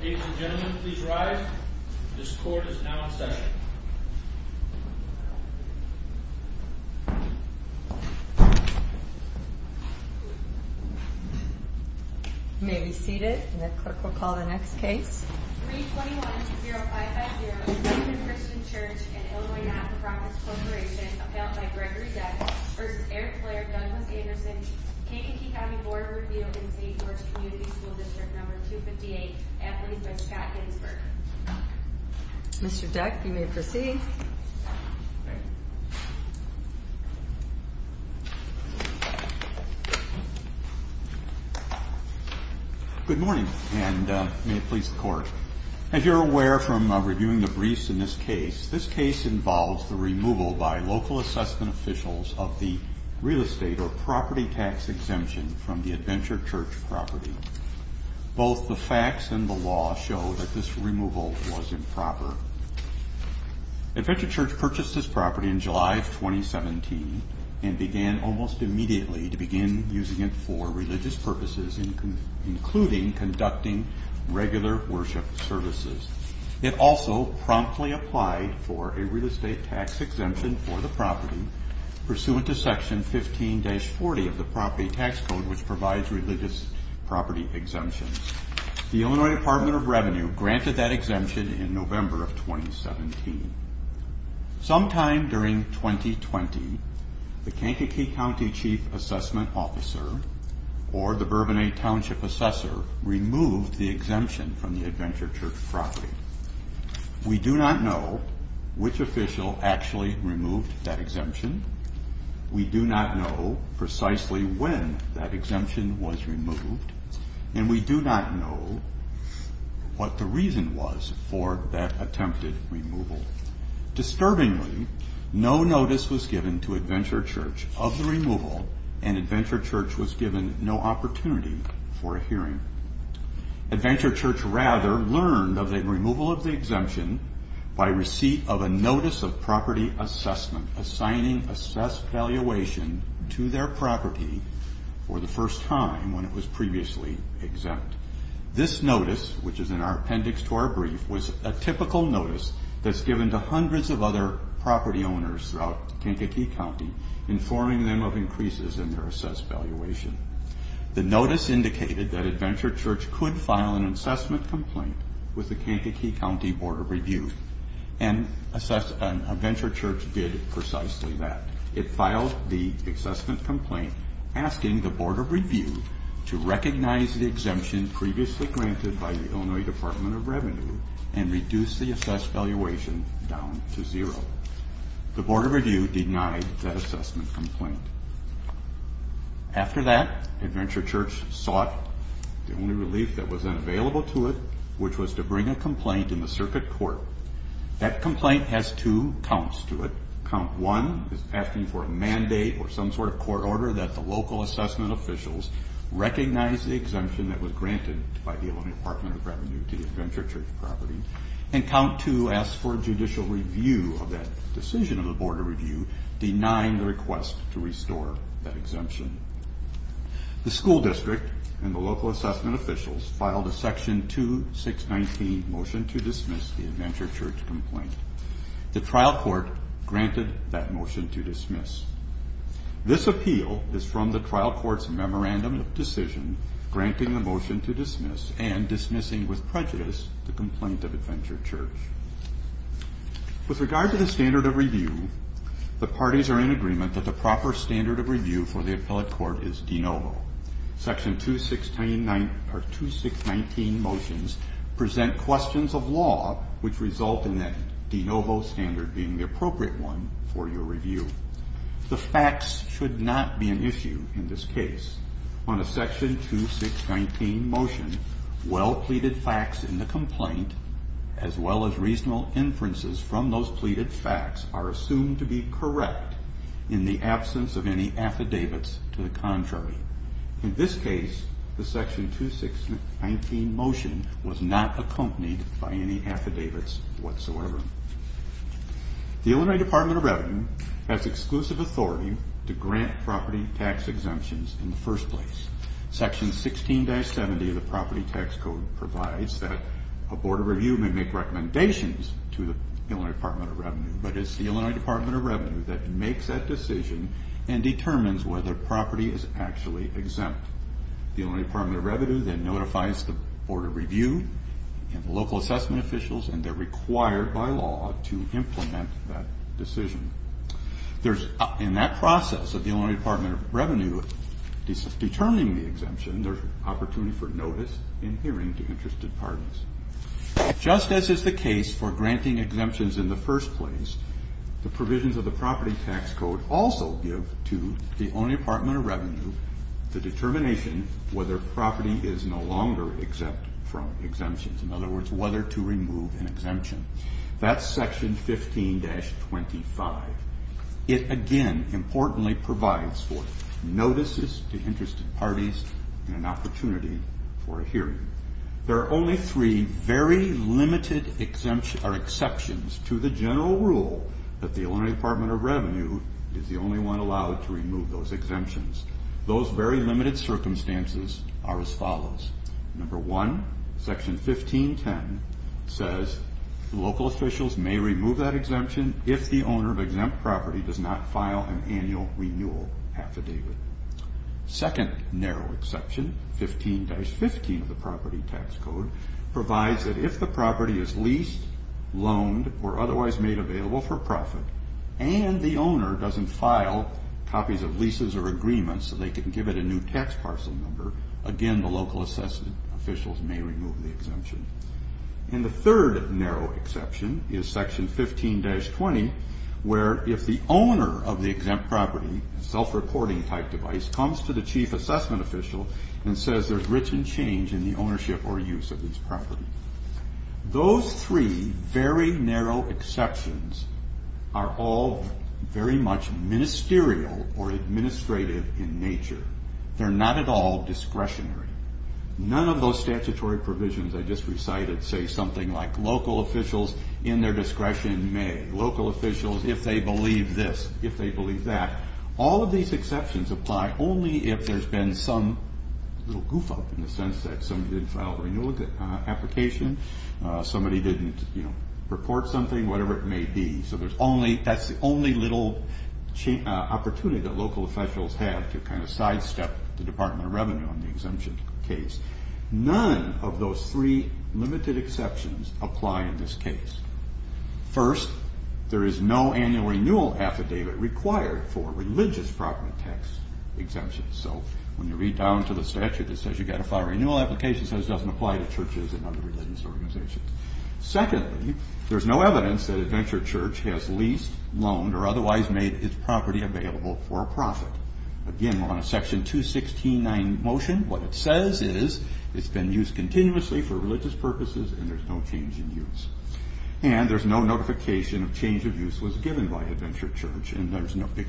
Ladies and gentlemen, please rise. This court is now in session. You may be seated, and the clerk will call the next case. 321-0550 Westman Christian Church and Illinois Not-for-Promise Corporation Appealed by Gregory Deck v. Eric Blair Douglas Anderson K&K County Board of Review in St. George Community School District No. 258 Athlete's bench, Pat Ginsburg Mr. Deck, you may proceed. Good morning, and may it please the court. As you're aware from reviewing the briefs in this case, this case involves the removal by local assessment officials of the real estate or property tax exemption from the Adventure Church property. Both the facts and the law show that this removal was improper. Adventure Church purchased this property in July of 2017 and began almost immediately to begin using it for religious purposes, including conducting regular worship services. It also promptly applied for a real estate tax exemption for the property pursuant to section 15-40 of the property tax code which provides religious property exemptions. The Illinois Department of Revenue granted that exemption in November of 2017. Sometime during 2020, the Kankakee County Chief Assessment Officer, or the Bourbonnet Township Assessor, removed the exemption from the Adventure Church property. We do not know which official actually removed that exemption, we do not know precisely when that exemption was removed, and we do not know what the reason was for that attempted removal. Disturbingly, no notice was given to Adventure Church of the removal, and Adventure Church was given no opportunity for a hearing. Adventure Church, rather, learned of the removal of the exemption by receipt of a notice of property assessment assigning assessed valuation to their property for the first time when it was previously exempt. This notice, which is in our appendix to our brief, was a typical notice that's given to hundreds of other property owners throughout Kankakee County informing them of increases in their assessed valuation. The notice indicated that Adventure Church could file an assessment complaint with the Kankakee County Board of Review, and Adventure Church did precisely that. It filed the assessment complaint asking the Board of Review to recognize the exemption previously granted by the Illinois Department of Revenue and reduce the assessed valuation down to zero. The Board of Review denied that assessment complaint. After that, Adventure Church sought the only relief that was then available to it, which was to bring a complaint in the circuit court. That complaint has two counts to it. Count one is asking for a mandate or some sort of court order that the local assessment officials recognize the exemption that was granted by the Illinois Department of Revenue to the Adventure Church property, and count two asks for judicial review of that decision of the Board of Review denying the request to restore that exemption. The school district and the local assessment officials filed a section 2619 motion to dismiss the Adventure Church complaint. The trial court granted that motion to dismiss. This appeal is from the trial court's memorandum of decision granting the motion to dismiss and dismissing with prejudice the complaint of Adventure Church. With regard to the standard of review, the parties are in agreement that the proper standard of review for the appellate court is de novo. Section 2619 motions present questions of law which result in that de novo standard being the appropriate one for your review. The facts should not be an issue in this case. On a section 2619 motion, well-pleaded facts in the complaint as well as reasonable inferences from those pleaded facts are assumed to be correct in the absence of any affidavits to the contrary. In this case, the section 2619 motion was not accompanied by any affidavits whatsoever. The Illinois Department of Revenue has exclusive authority to grant property tax exemptions in the first place. Section 16-70 of the property tax code provides that a Board of Review may make recommendations to the Illinois Department of Revenue but it's the Illinois Department of Revenue that makes that decision and determines whether property is actually exempt. The Illinois Department of Revenue then notifies the Board of Review and local assessment officials and they're required by law to implement that decision. In that process of the Illinois Department of Revenue determining the exemption, there's opportunity for notice in hearing to interested parties. Just as is the case for granting exemptions in the first place, the provisions of the property tax code also give to the Illinois Department of Revenue the determination whether property is no longer exempt from exemptions. In other words, whether to remove an exemption. That's section 15-25. It again importantly provides for notices to interested parties and an opportunity for a hearing. There are only three very limited exceptions to the general rule that the Illinois Department of Revenue is the only one allowed to remove those exemptions. Those very limited circumstances are as follows. Number one, section 15-10 says local officials may remove that exemption if the owner of exempt property does not file an annual renewal affidavit. Second narrow exception, 15-15 of the property tax code provides that if the property is leased, loaned, or otherwise made available for profit and the owner doesn't file copies of leases or agreements so they can give it a new tax parcel number, again the local assessment officials may remove the exemption. And the third narrow exception is section 15-20 where if the owner of the exempt property, self-reporting type device, comes to the chief assessment official and says there's written change in the ownership or use of these properties. Those three very narrow exceptions are all very much ministerial or administrative in nature. They're not at all discretionary. None of those statutory provisions I just recited say something like local officials in their discretion may. Local officials if they believe that. All of these exceptions apply only if there's been some little goof up in the sense that somebody didn't file a renewal application, somebody didn't report something, whatever it may be. So that's the only little opportunity that local officials have to kind of sidestep the Department of Revenue on the exemption case. None of those three limited exceptions apply in this case. First, there is no annual renewal affidavit required for religious program tax exemptions. So when you read down to the statute that says you've got to file a renewal application it says it doesn't apply to churches and other religious organizations. Secondly, there's no evidence that Adventure Church has leased, loaned, or otherwise made its property available for a profit. Again, we're on a section 216-9 motion. What it says is it's been used continuously for religious purposes and there's no change in use. And there's no notification of change of use was given by Adventure Church and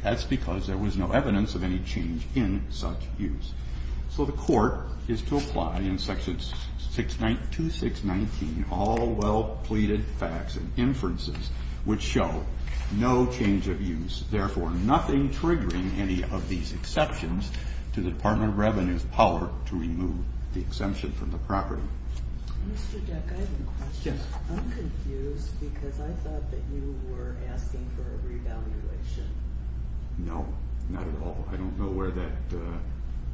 that's because there was no evidence of any change in such use. So the court is to apply in section 2619 all well pleaded facts and inferences which show no change of use, therefore nothing triggering any of these exceptions to the Department of Revenue's power to remove the exemption from the property. Mr. Deck, I have a question. I'm confused because I thought that you were asking for a revaluation. No, not at all. I don't know where that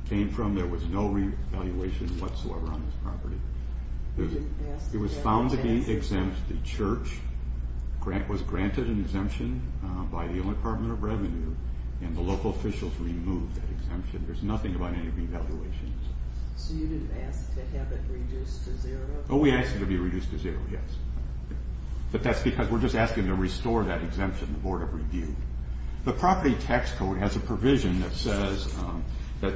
came from. There was no revaluation whatsoever on this property. It was found to be exempt. The church was granted an exemption by the Department of Revenue and the local officials removed that exemption. There's nothing about any revaluations. So you didn't ask to have it reduced to zero? Oh, we asked it to be reduced to zero, yes. But that's because we're just asking to restore that exemption to the Board of Review. The property tax code has a provision that says that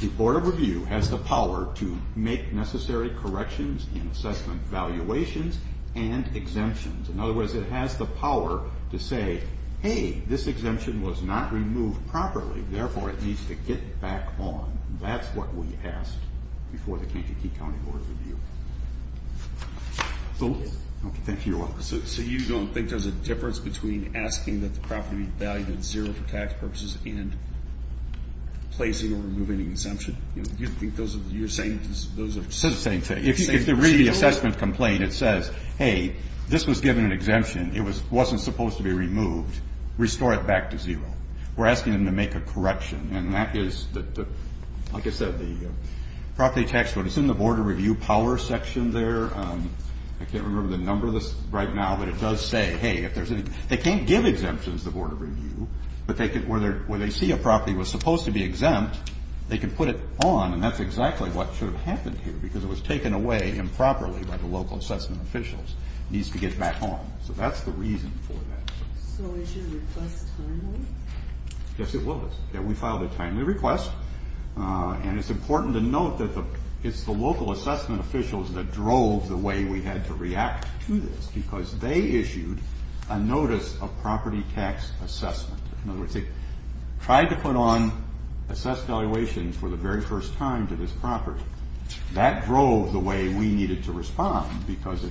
the Board of Review has the power to make necessary corrections in assessment valuations and exemptions. In other words, it has the power to say hey, this exemption was not removed properly, therefore it needs to get back on. That's what we asked before the Kansas City County Board of Review. So you don't think there's a difference between asking that the property be valued at zero for tax purposes and placing or removing an exemption? You think those are the same things? If you read the assessment complaint, it says hey, this was given an exemption. It wasn't supposed to be removed. Restore it back to zero. We're asking them to make a correction and that is, like I said, the property tax code is in the Board of Review power section there. I can't remember the number of this right now, but it does say hey, they can't give exemptions to the Board of Review, but where they see a property that was supposed to be exempt, they can put it on and that's exactly what should have happened here because it was taken away improperly by the local assessment officials. It needs to get back on. So that's the reason for that. So is your request timely? Yes, it was. We filed a timely request and it's important to note that it's the local assessment officials that drove the way we had to react to this because they issued a notice of property tax assessment. In other words, they tried to put on assessed valuations for the very first time to this property. That drove the way we needed to respond because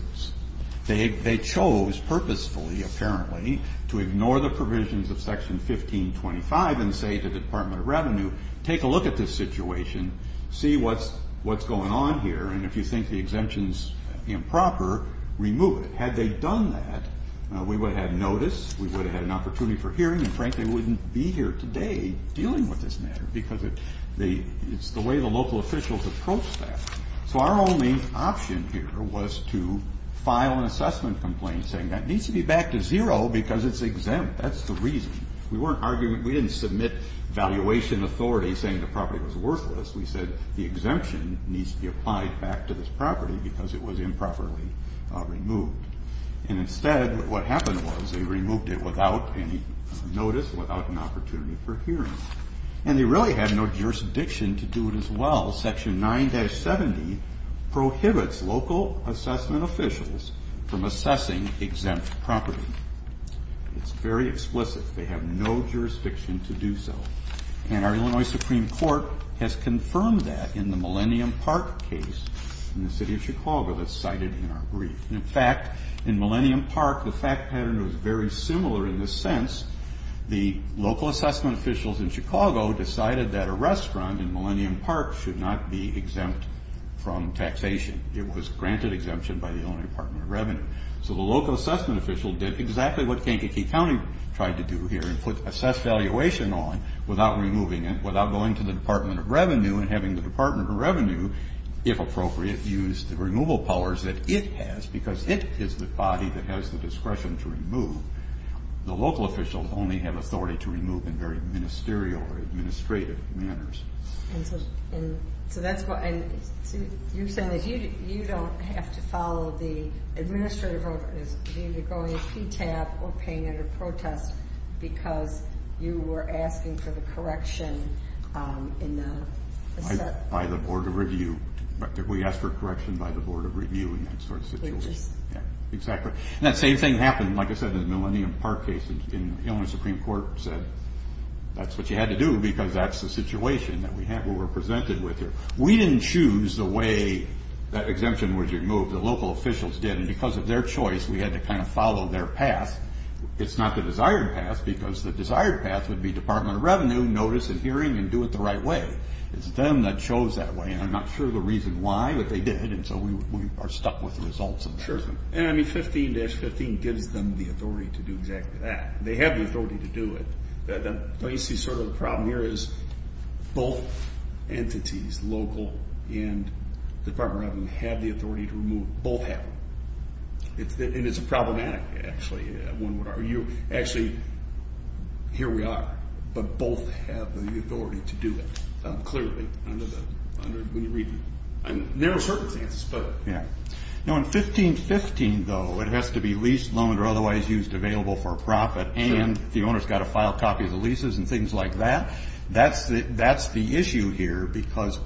they chose purposefully, apparently, to ignore the provisions of section 1525 and say to the Department of Revenue, take a look at this situation, see what's going on here, and if you think the exemption's improper, remove it. Had they done that, we would have had notice, we would have had an opportunity for hearing, and frankly we wouldn't be here today dealing with this matter because it's the way the local officials approached that. So our only option here was to say that needs to be back to zero because it's exempt. That's the reason. We weren't arguing, we didn't submit valuation authority saying the property was worthless. We said the exemption needs to be applied back to this property because it was improperly removed. And instead, what happened was they removed it without any notice, without an opportunity for hearing. And they really had no jurisdiction to do it as well. Section 9-70 prohibits local assessment officials from assessing exempt property. It's very explicit. They have no jurisdiction to do so. And our Illinois Supreme Court has confirmed that in the Millennium Park case in the city of Chicago that's cited in our brief. And in fact, in Millennium Park, the fact pattern was very similar in this sense. The local assessment officials in Chicago decided that a restaurant in Millennium Park should not be exempt from taxation. It was granted exemption by the Illinois Department of Revenue. So the local assessment official did exactly what Kankakee County tried to do here and put assessed valuation on without removing it, without going to the Department of Revenue and having the Department of Revenue, if appropriate, use the removal powers that it has because it is the body that has the discretion to remove. The local officials only have authority to remove in very ministerial or administrative manners. And so that's why...you're saying that you don't have to follow the administrative ordinance of either going to PTAP or paying under protest because you were asking for the correction in the... By the Board of Review. We asked for correction by the Board of Review in that sort of situation. Yeah, exactly. And that same thing happened, like I said, in the Millennium Park case. The Illinois Supreme Court said that's what we were presented with here. We didn't choose the way that exemption was removed. The local officials did. And because of their choice, we had to kind of follow their path. It's not the desired path because the desired path would be Department of Revenue, notice, and hearing, and do it the right way. It's them that chose that way. And I'm not sure the reason why, but they did. And so we are stuck with the results of that. Sure. And I mean 15-15 gives them the authority to do exactly that. They have the authority to do it. But you see sort of the problem here is both entities, local and Department of Revenue, have the authority to remove...both have them. And it's problematic, actually. Actually, here we are. But both have the authority to do it, clearly. There are circumstances, but... Yeah. Now in 15-15, though, it has to be leased, loaned, or otherwise used available for profit, and the owner's got to file copies of leases and things like that. That's the issue here because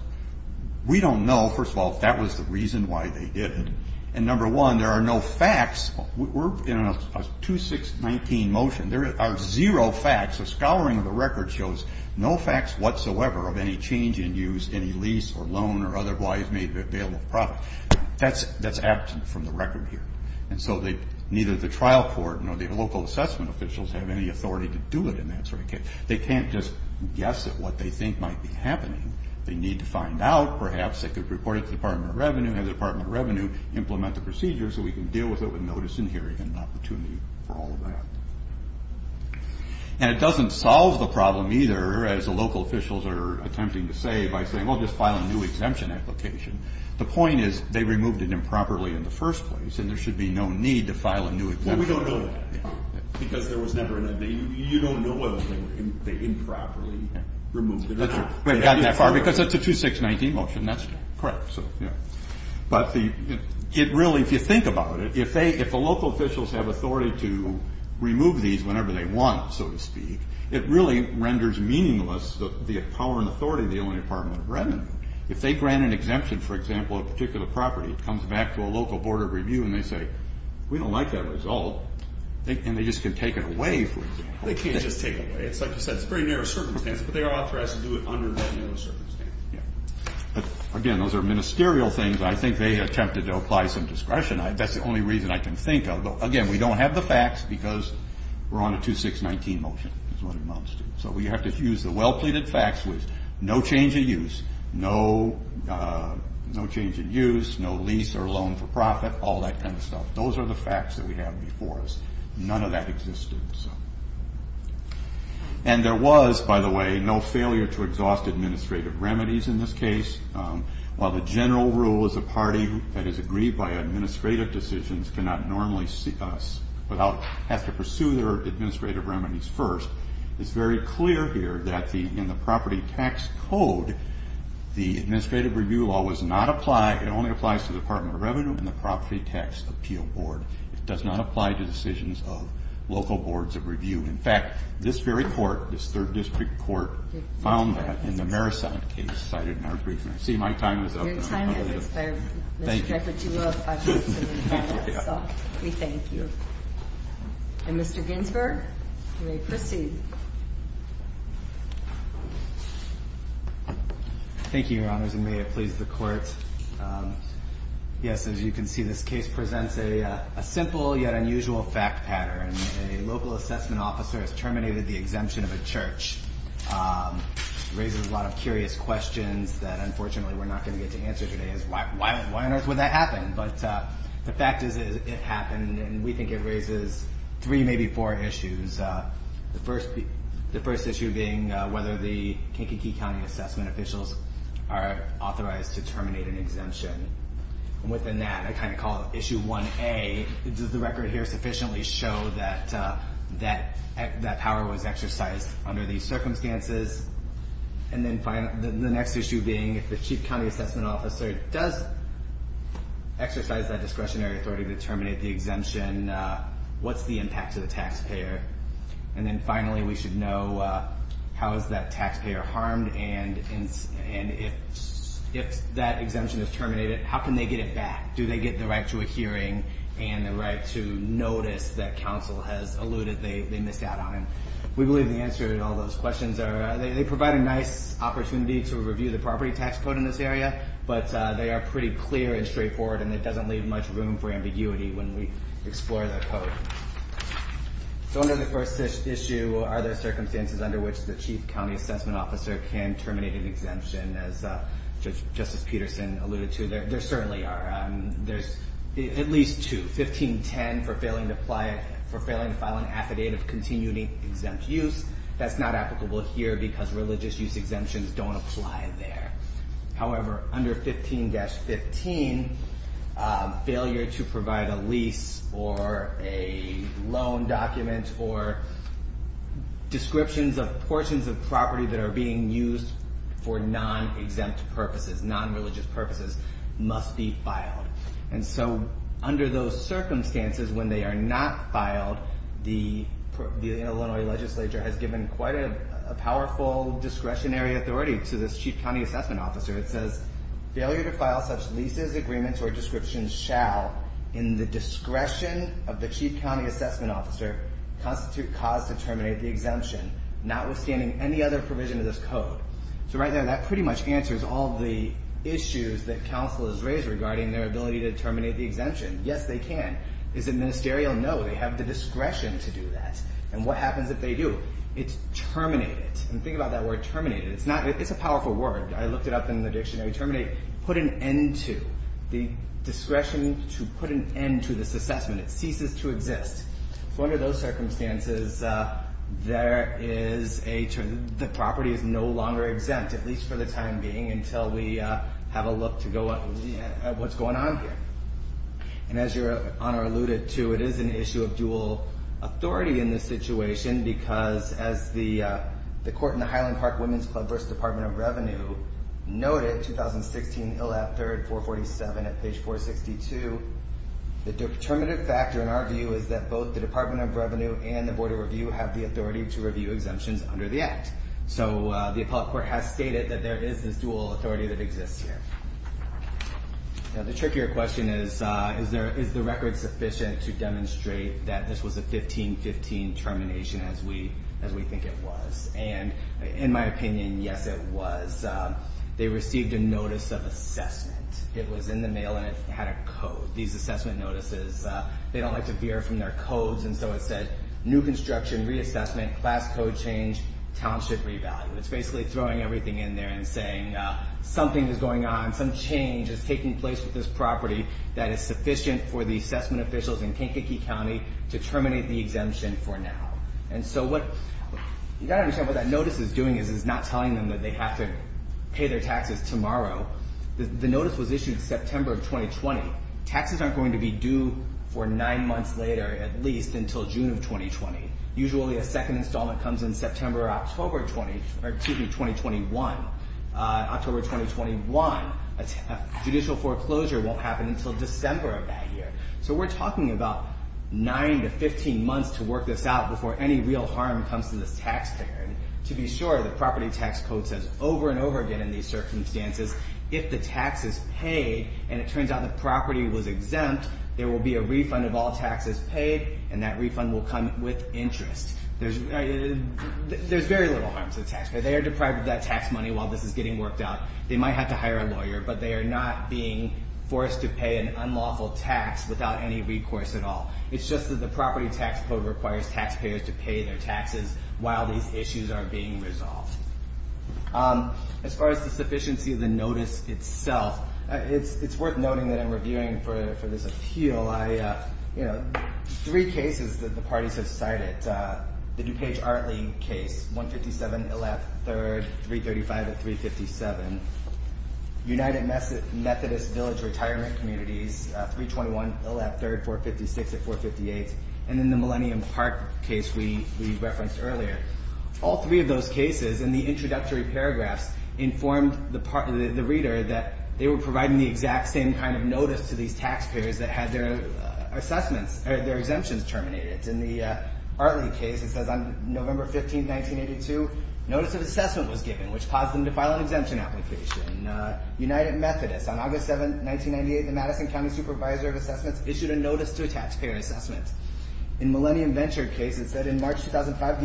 we don't know, first of all, if that was the reason why they did it. And number one, there are no facts. We're in a 2-6-19 motion. There are zero facts. A scouring of the record shows no facts whatsoever of any change in use, any lease or loan or otherwise made available for profit. That's absent from the record here. And so neither the trial court nor the local assessment officials have any authority to do it in that sort of case. They can't just guess at what they think might be happening. They need to find out. Perhaps they could report it to the Department of Revenue, have the Department of Revenue implement the procedure so we can deal with it with notice and hearing and opportunity for all of that. And it doesn't solve the problem either, as the local officials are attempting to say by saying, well, just file a new exemption application. The point is, they removed it improperly in the first place, and there should be no need to because there was never a need. You don't know whether they improperly removed it or not. We've gotten that far because it's a 2-6-19 motion. Correct. But it really, if you think about it, if the local officials have authority to remove these whenever they want, so to speak, it really renders meaningless the power and authority of the Illinois Department of Revenue. If they grant an exemption, for example, a particular property, it comes back to a local board of review and they say, we don't like that result, and they just can take it away, for example. They can't just take it away. It's like you said, it's very near a circumstance, but their author has to do it under that circumstance. Again, those are ministerial things. I think they attempted to apply some discretion. That's the only reason I can think of. Again, we don't have the facts because we're on a 2-6-19 motion is what it amounts to. So we have to use the well-pleaded facts with no change in use, no change in use, no lease or loan for profit, all that kind of stuff. Those are the facts that we have before us. None of that existed. And there was, by the way, no failure to exhaust administrative remedies in this case. While the general rule is a party that is aggrieved by administrative decisions cannot normally see us without having to pursue their administrative remedies first, it's very clear here that in the property tax code, the administrative review law was not applied, it only applies to the Department of Revenue and the Property Tax Appeal Board. It does not apply to decisions of local boards of review. In fact, this very court, this third district court, found that in the Marisont case cited in our brief. And I see my time is up. Thank you. And Mr. Ginsburg, you may proceed. Thank you, Your Honors. And may it please the Court, yes, as you can see, this case presents a simple yet unusual fact pattern. A local assessment officer has terminated the exemption of a church. It raises a lot of curious questions that, unfortunately, we're not going to get to answer today, is why on earth would that happen? But the fact is it happened, and we think it raises three, maybe four issues. The first issue being whether the Kankakee County assessment officials are authorized to terminate an exemption. And within that, I kind of call it issue 1A, does the record here sufficiently show that that power was exercised under these circumstances? And then the next issue being if the chief county assessment officer does exercise that discretionary authority to terminate the exemption, what's the impact to the taxpayer? And then finally, we should know how is that taxpayer harmed, and if that exemption is terminated, how can they get it back? Do they get the right to a hearing and the right to notice that counsel has alluded they missed out on? We believe the answer to all those questions are they provide a nice opportunity to review the property tax code in this area, but they are pretty clear and straightforward, and it doesn't leave much room for ambiguity when we explore that code. So under the first issue, are there circumstances under which the chief county assessment officer can terminate an exemption, as Justice Peterson alluded to? There certainly are. There's at least two, 1510 for failing to file an affidavit of continuing exempt use. That's not applicable here because religious use exemptions don't apply there. However, under 15-15, failure to provide a lease or a description of portions of property that are being used for non-exempt purposes, non-religious purposes, must be filed. And so under those circumstances, when they are not filed, the Illinois legislature has given quite a powerful discretionary authority to this chief county assessment officer. It says, failure to file such leases, agreements, or descriptions shall, in the discretion of the chief county assessment officer, constitute cause to terminate the exemption, not withstanding any other provision of this code. So right now, that pretty much answers all the issues that counsel has raised regarding their ability to terminate the exemption. Yes, they can. Is it ministerial? No, they have the discretion to do that. And what happens if they do? It's terminated. And think about that word, terminated. It's a powerful word. I looked it up in the dictionary. Terminate put an end to. The discretion to put an end to this assessment. It ceases to exist. So under those circumstances, there is a, the property is no longer exempt, at least for the time being, until we have a look to go at what's going on here. And as your honor alluded to, it is an issue of dual authority in this situation, because as the court in the Highland Park Women's Club v. Department of Revenue 462, the determinative factor in our view is that both the Department of Revenue and the Board of Review have the authority to review exemptions under the Act. So the appellate court has stated that there is this dual authority that exists here. Now the trickier question is is the record sufficient to demonstrate that this was a 15-15 termination as we think it was? And in my opinion, yes it was. They received a notice of had a code, these assessment notices. They don't like to veer from their codes and so it said, new construction, reassessment, class code change, township revalue. It's basically throwing everything in there and saying something is going on, some change is taking place with this property that is sufficient for the assessment officials in Kankakee County to terminate the exemption for now. And so what, you've got to understand what that notice is doing is it's not telling them that they have to pay their taxes tomorrow. The notice was issued September of 2020. Taxes aren't going to be due for nine months later at least until June of 2020. Usually a second installment comes in September or October 2021. October 2021 judicial foreclosure won't happen until December of that year. So we're talking about nine to 15 months to work this out before any real harm comes to this taxpayer. To be sure, the property tax code says over and over again in these circumstances, if the tax is paid and it turns out the property was exempt, there will be a refund of all taxes paid and that refund will come with interest. There's very little harm to the taxpayer. They are deprived of that tax money while this is getting worked out. They might have to hire a lawyer, but they are not being forced to pay an unlawful tax without any recourse at all. It's just that the property tax code requires taxpayers to pay their taxes while these issues are being resolved. As far as the sufficiency of the notice itself, it's worth noting that I'm reviewing for this appeal three cases that the parties have cited. The DuPage-Artley case, 157 Illap 3rd, 335 at 357. United Methodist Village Retirement Communities, 321 Illap 3rd, 456 at 458. And then the Millennium Park case we referenced earlier. All three of those cases in the introductory paragraphs informed the reader that they were providing the exact same kind of notice to these taxpayers that had their exemptions terminated. In the Artley case, it says on November 15, 1982, notice of assessment was given, which caused them to file an exemption application. United Methodist, on August 7, 1998, the Madison County Supervisor of Assessments issued a notice to a taxpayer assessment. In Millennium Venture case, it said in March 2005,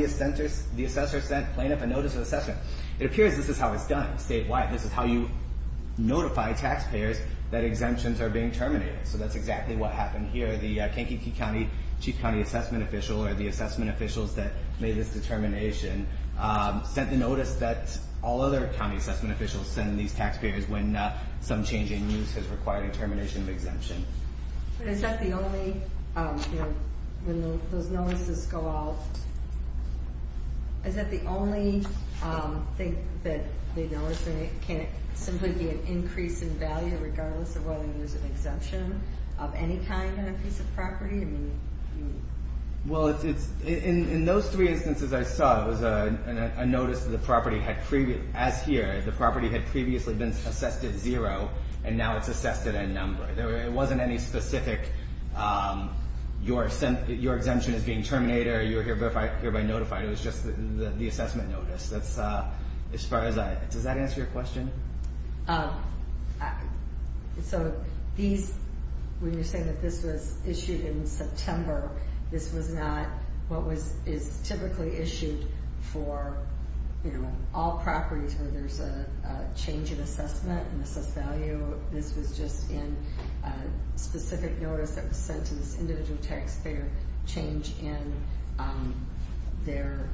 the assessor sent plaintiff a notice of assessment. It appears this is how it's done statewide. This is how you notify taxpayers that exemptions are being terminated. So that's exactly what happened here. The Kankakee County Chief County Assessment Official, or the assessment officials that made this determination, sent the notice that all other county assessment officials send these taxpayers when some change in use has required a termination of exemption. But is that the only, you know, when those notices go out, is that the only thing that they notice, and it can't simply be an increase in value regardless of whether there's an exemption of any kind on a piece of property? I mean, you... Well, it's, in those three instances I saw, it was a notice that the property had previously, as here, the property had previously been assessed at zero, and now it's assessed at a number. It wasn't any specific your exemption is being terminated, or you're hereby notified. It was just the assessment notice. That's as far as I... Does that answer your question? When you're saying that this was issued in September, this was not what is typically issued for all properties where there's a change in use, it was just in a specific notice that was sent to this individual taxpayer, change in their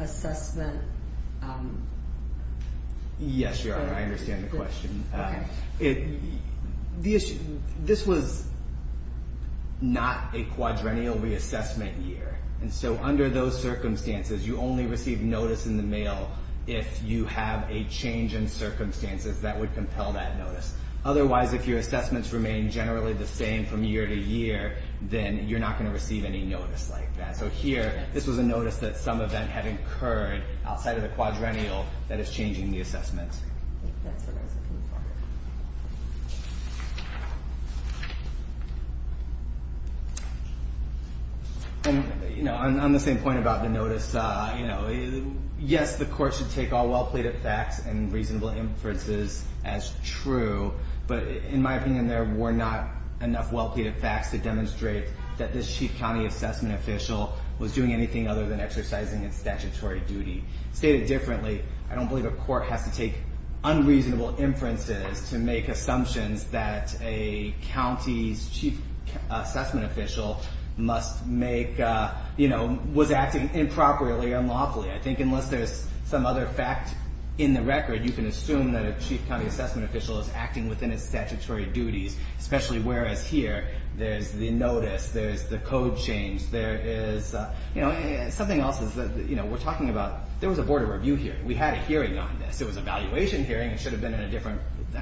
assessment... Yes, Your Honor, I understand the question. This was not a quadrennial reassessment year, and so under those circumstances, you only receive notice in the mail if you have a change in circumstances that would compel that notice. Otherwise, if your assessments remain generally the same from year to year, then you're not going to receive any notice like that. So here, this was a notice that some event had incurred outside of the quadrennial that is changing the assessment. And, you know, on the same point about the notice, yes, the court should take all well-plated facts and reasonable inferences as true, but in my opinion, there were not enough well-plated facts to demonstrate that this chief county assessment official was doing anything other than exercising its statutory duty. Stated differently, I don't believe a court has to take unreasonable inferences to make assumptions that a county's chief assessment official must make... I think unless there's some other fact in the record, you can assume that a chief county assessment official is acting within its statutory duties, especially whereas here, there's the notice, there's the code change, there is, you know, something else is that, you know, we're talking about there was a board of review here. We had a hearing on this. It was a valuation hearing. It should have been at a different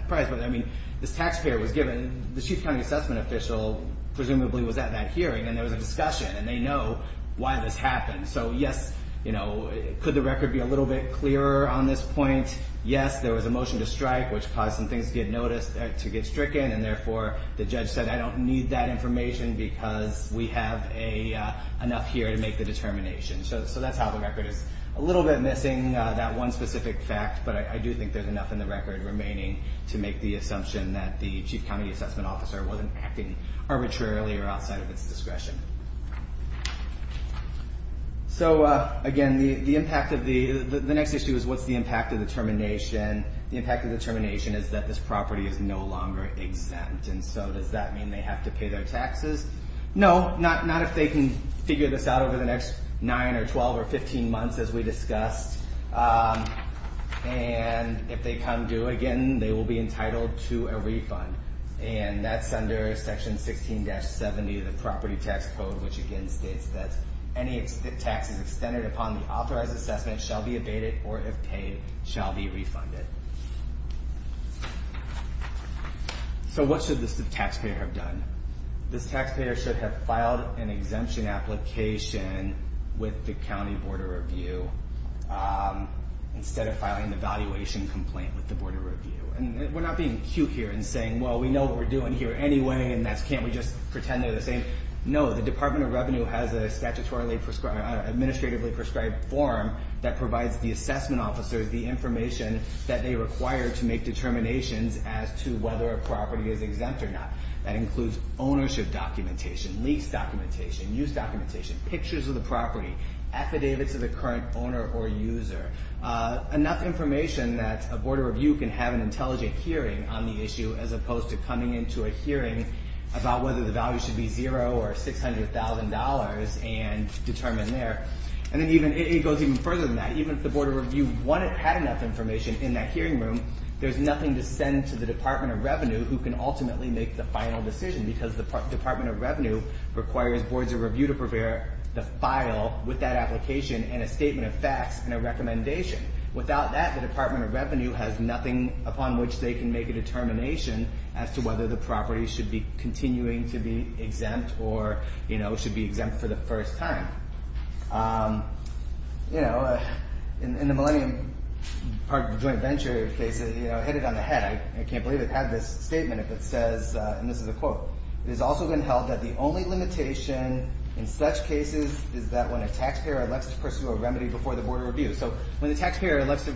price, but I mean, this taxpayer was given, the chief county assessment official presumably was at that hearing, and there was a discussion, and they know why this happened. So yes, you know, could the record be a little bit clearer on this point? Yes, there was a motion to strike, which caused some things to get noticed, to get stricken, and therefore, the judge said, I don't need that information because we have enough here to make the determination. So that's how the record is. A little bit missing, that one specific fact, but I do think there's enough in the record remaining to make the assumption that the chief county assessment officer wasn't acting arbitrarily or outside of its discretion. So again, the impact of the, the next issue is what's the impact of the termination? The impact of the termination is that this property is no longer exempt, and so does that mean they have to pay their taxes? No, not if they can figure this out over the next 9 or 12 or 15 months, as we discussed. And if they come due again, they will be entitled to a refund, and that's under section 16-70 of the property tax code, which again states that any taxes extended upon the authorized assessment shall be abated or, if paid, shall be refunded. So what should this taxpayer have done? This taxpayer should have filed an exemption application with the county board of review instead of filing an evaluation complaint with the board of review. And we're not being cute here and saying well, we know what we're doing here anyway, and can't we just pretend they're the same? No, the Department of Revenue has a statutorily, administratively prescribed form that provides the assessment officers the information that they require to make determinations as to whether a property is exempt or not. That includes ownership documentation, lease documentation, use documentation, pictures of the property, affidavits of the current owner or user, enough information that a board of review can have an opinion on, as opposed to coming into a hearing about whether the value should be zero or $600,000 and determine there. And it goes even further than that. Even if the board of review had enough information in that hearing room, there's nothing to send to the Department of Revenue who can ultimately make the final decision, because the Department of Revenue requires boards of review to prepare the file with that application and a statement of facts and a recommendation. Without that, the Department of Revenue has nothing upon which they can make a determination as to whether the property should be continuing to be exempt or should be exempt for the first time. In the Millennium Joint Venture case, it hit it on the head. I can't believe it had this statement that says, and this is a quote, it has also been held that the only limitation in such cases is that when a taxpayer elects to pursue a remedy before the board of review. So when the taxpayer elects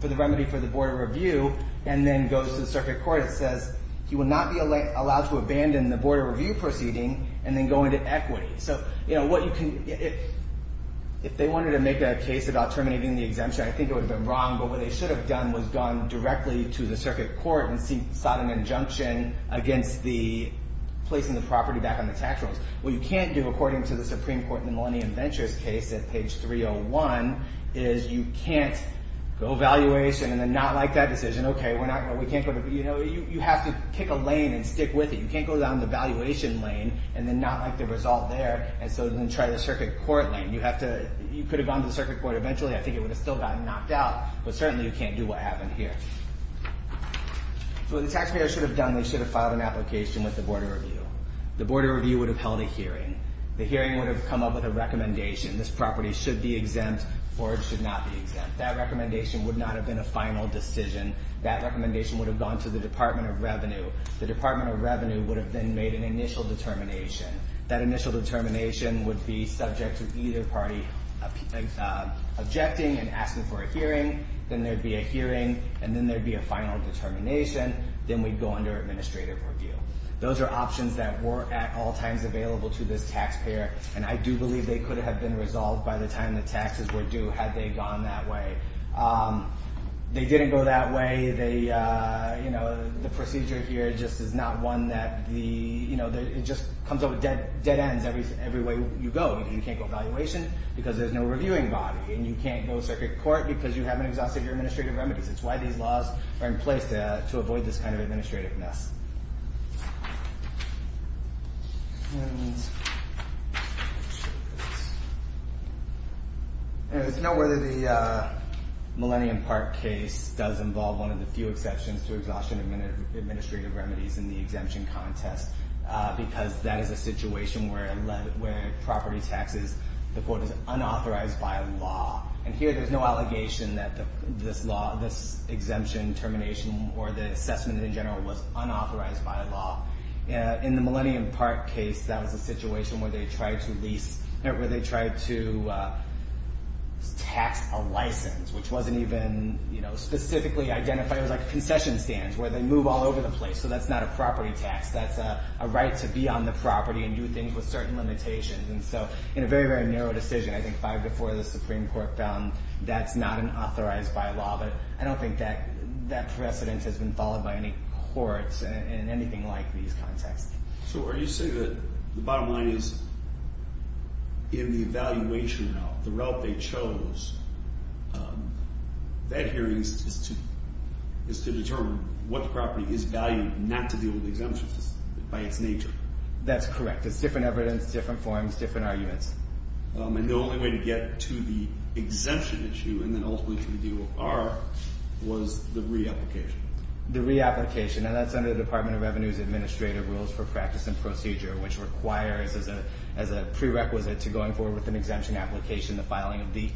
for the remedy for the board of review and then goes to the circuit court, it says he will not be allowed to abandon the board of review proceeding and then go into equity. If they wanted to make a case about terminating the exemption, I think it would have been wrong, but what they should have done was gone directly to the circuit court and sought an injunction against the placing the property back on the tax rolls. What you can't do, according to the Supreme Court in the Millennium Ventures case at page 301, is you can't go valuation and then not like that decision, okay, we can't go to, you know, you have to kick a lane and stick with it. You can't go down the valuation lane and then not like the result there and so then try the circuit court lane. You have to, you could have gone to the circuit court eventually. I think it would have still gotten knocked out, but certainly you can't do what happened here. So what the taxpayer should have done, they should have filed an application with the board of review. The board of review would have held a hearing. The hearing would have come up with a recommendation. This property should be exempt or it should not be exempt. That recommendation would not have been a final decision. That recommendation would have gone to the Department of Revenue. The Department of Revenue would have then made an initial determination. That initial determination would be subject to either party objecting and asking for a hearing. Then there'd be a hearing and then there'd be a final determination. Then we'd go under administrative review. Those are options that were at all times available to this taxpayer and I do believe they could have been resolved by the time the taxes were due had they gone that way. They didn't go that way. The procedure here just is not one that, it just comes up with dead ends every way you go. You can't go valuation because there's no reviewing body and you can't go circuit court because you haven't exhausted your administrative remedies. It's why these laws are in place to avoid this kind of administrativeness. There's no way that the Millennium Park case does involve one of the few exceptions to exhaustion of administrative remedies in the exemption contest because that is a situation where property taxes, the court is unauthorized by law. Here there's no allegation that this law, this exemption termination or the assessment in general was unauthorized. In the Millennium Park case that was a situation where they tried to tax a license which wasn't even specifically identified. It was like concession stands where they move all over the place. That's not a property tax. That's a right to be on the property and do things with certain limitations. In a very, very narrow decision, I think five to four of the Supreme Court found that's not unauthorized by law. I don't think that precedent has been followed by any courts in anything like these contexts. Are you saying that the bottom line is in the evaluation now, the route they chose, that hearing is to determine what property is valued not to deal with exemptions by its nature? That's correct. It's different evidence, different forms, different arguments. The only way to get to the exemption issue and then ultimately to the deal with R was the re-application. The re-application, and that's under the Department of Revenue's Administrative Rules for Practice and Procedure, which requires as a prerequisite to going forward with an exemption application, the filing of the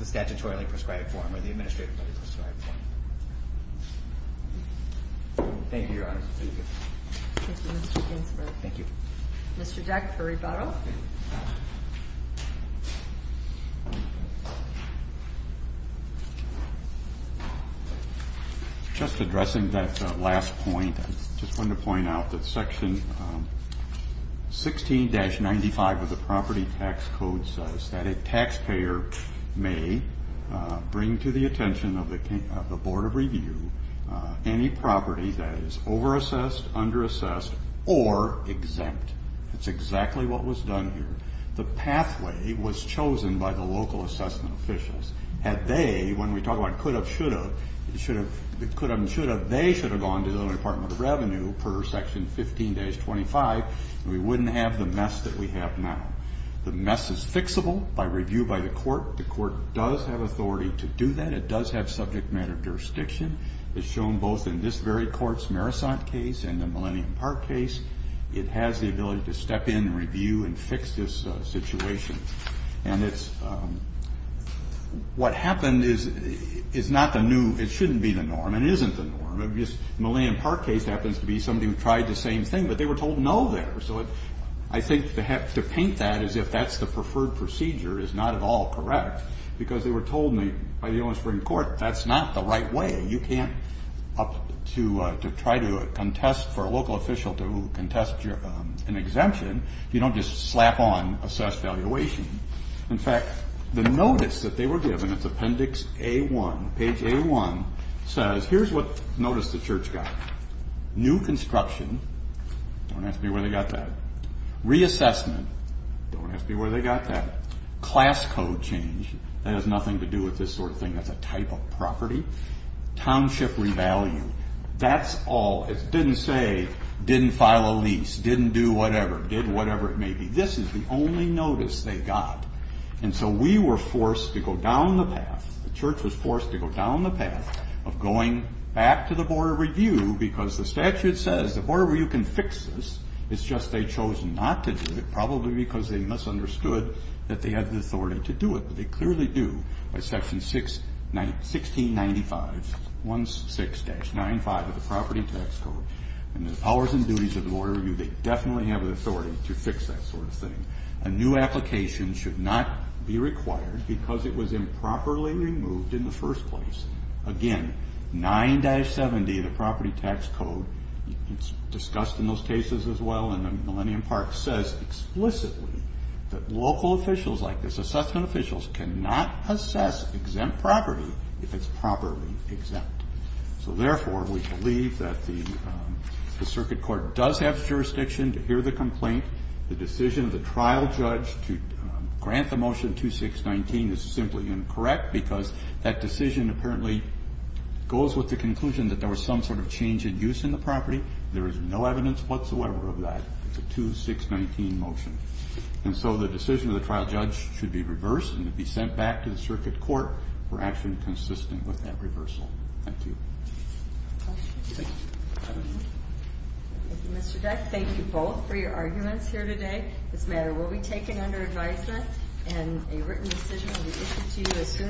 statutorily prescribed form or the administratively prescribed form. Thank you, Your Honor. Thank you, Mr. Ginsburg. Thank you. Mr. Deck for rebuttal. Just addressing that last point, I just wanted to point out that Section 16-95 of the Property Tax Code says that a taxpayer may bring to the attention of the Board of Review any property that is over-assessed, under-assessed, or exempt. That's exactly what was done here. The pathway was chosen by the local assessment officials. Had they, when we talk about could have, should have, they should have gone to the Department of Revenue per Section 15-25, we wouldn't have the mess that we have now. The mess is fixable by review by the court. The court does have authority to do that. It does have subject matter jurisdiction. It's shown both in this very court's Marisont case and the Millennium Park case. It has the ability to step in and review and fix this situation. What happened is not the new, it shouldn't be the norm. It isn't the norm. The Millennium Park case happens to be somebody who tried the same thing, but they were told no there. I think to paint that as if that's the preferred procedure is not at all correct, because they were told by the onus of the court, that's not the right way. You can't, to try to contest for a local official to contest an exemption, you don't just slap on assessed valuation. In fact, the notice that they were given, it's appendix A-1, page A-1, says, here's what notice the church got. New construction, don't ask me where they got that. Reassessment, don't ask me where they got that. Class code change, that has nothing to do with this sort of thing, that's a type of property. Township revalue, didn't do whatever, did whatever it may be. This is the only notice they got. And so we were forced to go down the path, the church was forced to go down the path of going back to the Board of Review because the statute says the Board of Review can fix this, it's just they chose not to do it, probably because they misunderstood that they had the authority to do it, but they clearly do, by section 1695, 16-95 of the property tax code. And the powers and duties of the Board of Review, they definitely have the authority to fix that sort of thing. A new application should not be required because it was improperly removed in the first place. Again, 9-70 of the property tax code, it's discussed in those cases as well, in the Millennium Park, says explicitly that local officials like this, assessment officials, cannot assess exempt property if it's properly exempt. So therefore, we believe that the circuit court does have jurisdiction to hear the complaint. The decision of the trial judge to grant the motion 2619 is simply incorrect because that decision apparently goes with the conclusion that there was some sort of change in use in the property. There is no evidence whatsoever of that. It's a 2619 motion. And so the decision of the trial judge should be reversed and be sent back to the circuit court for action consistent with that reversal. Thank you.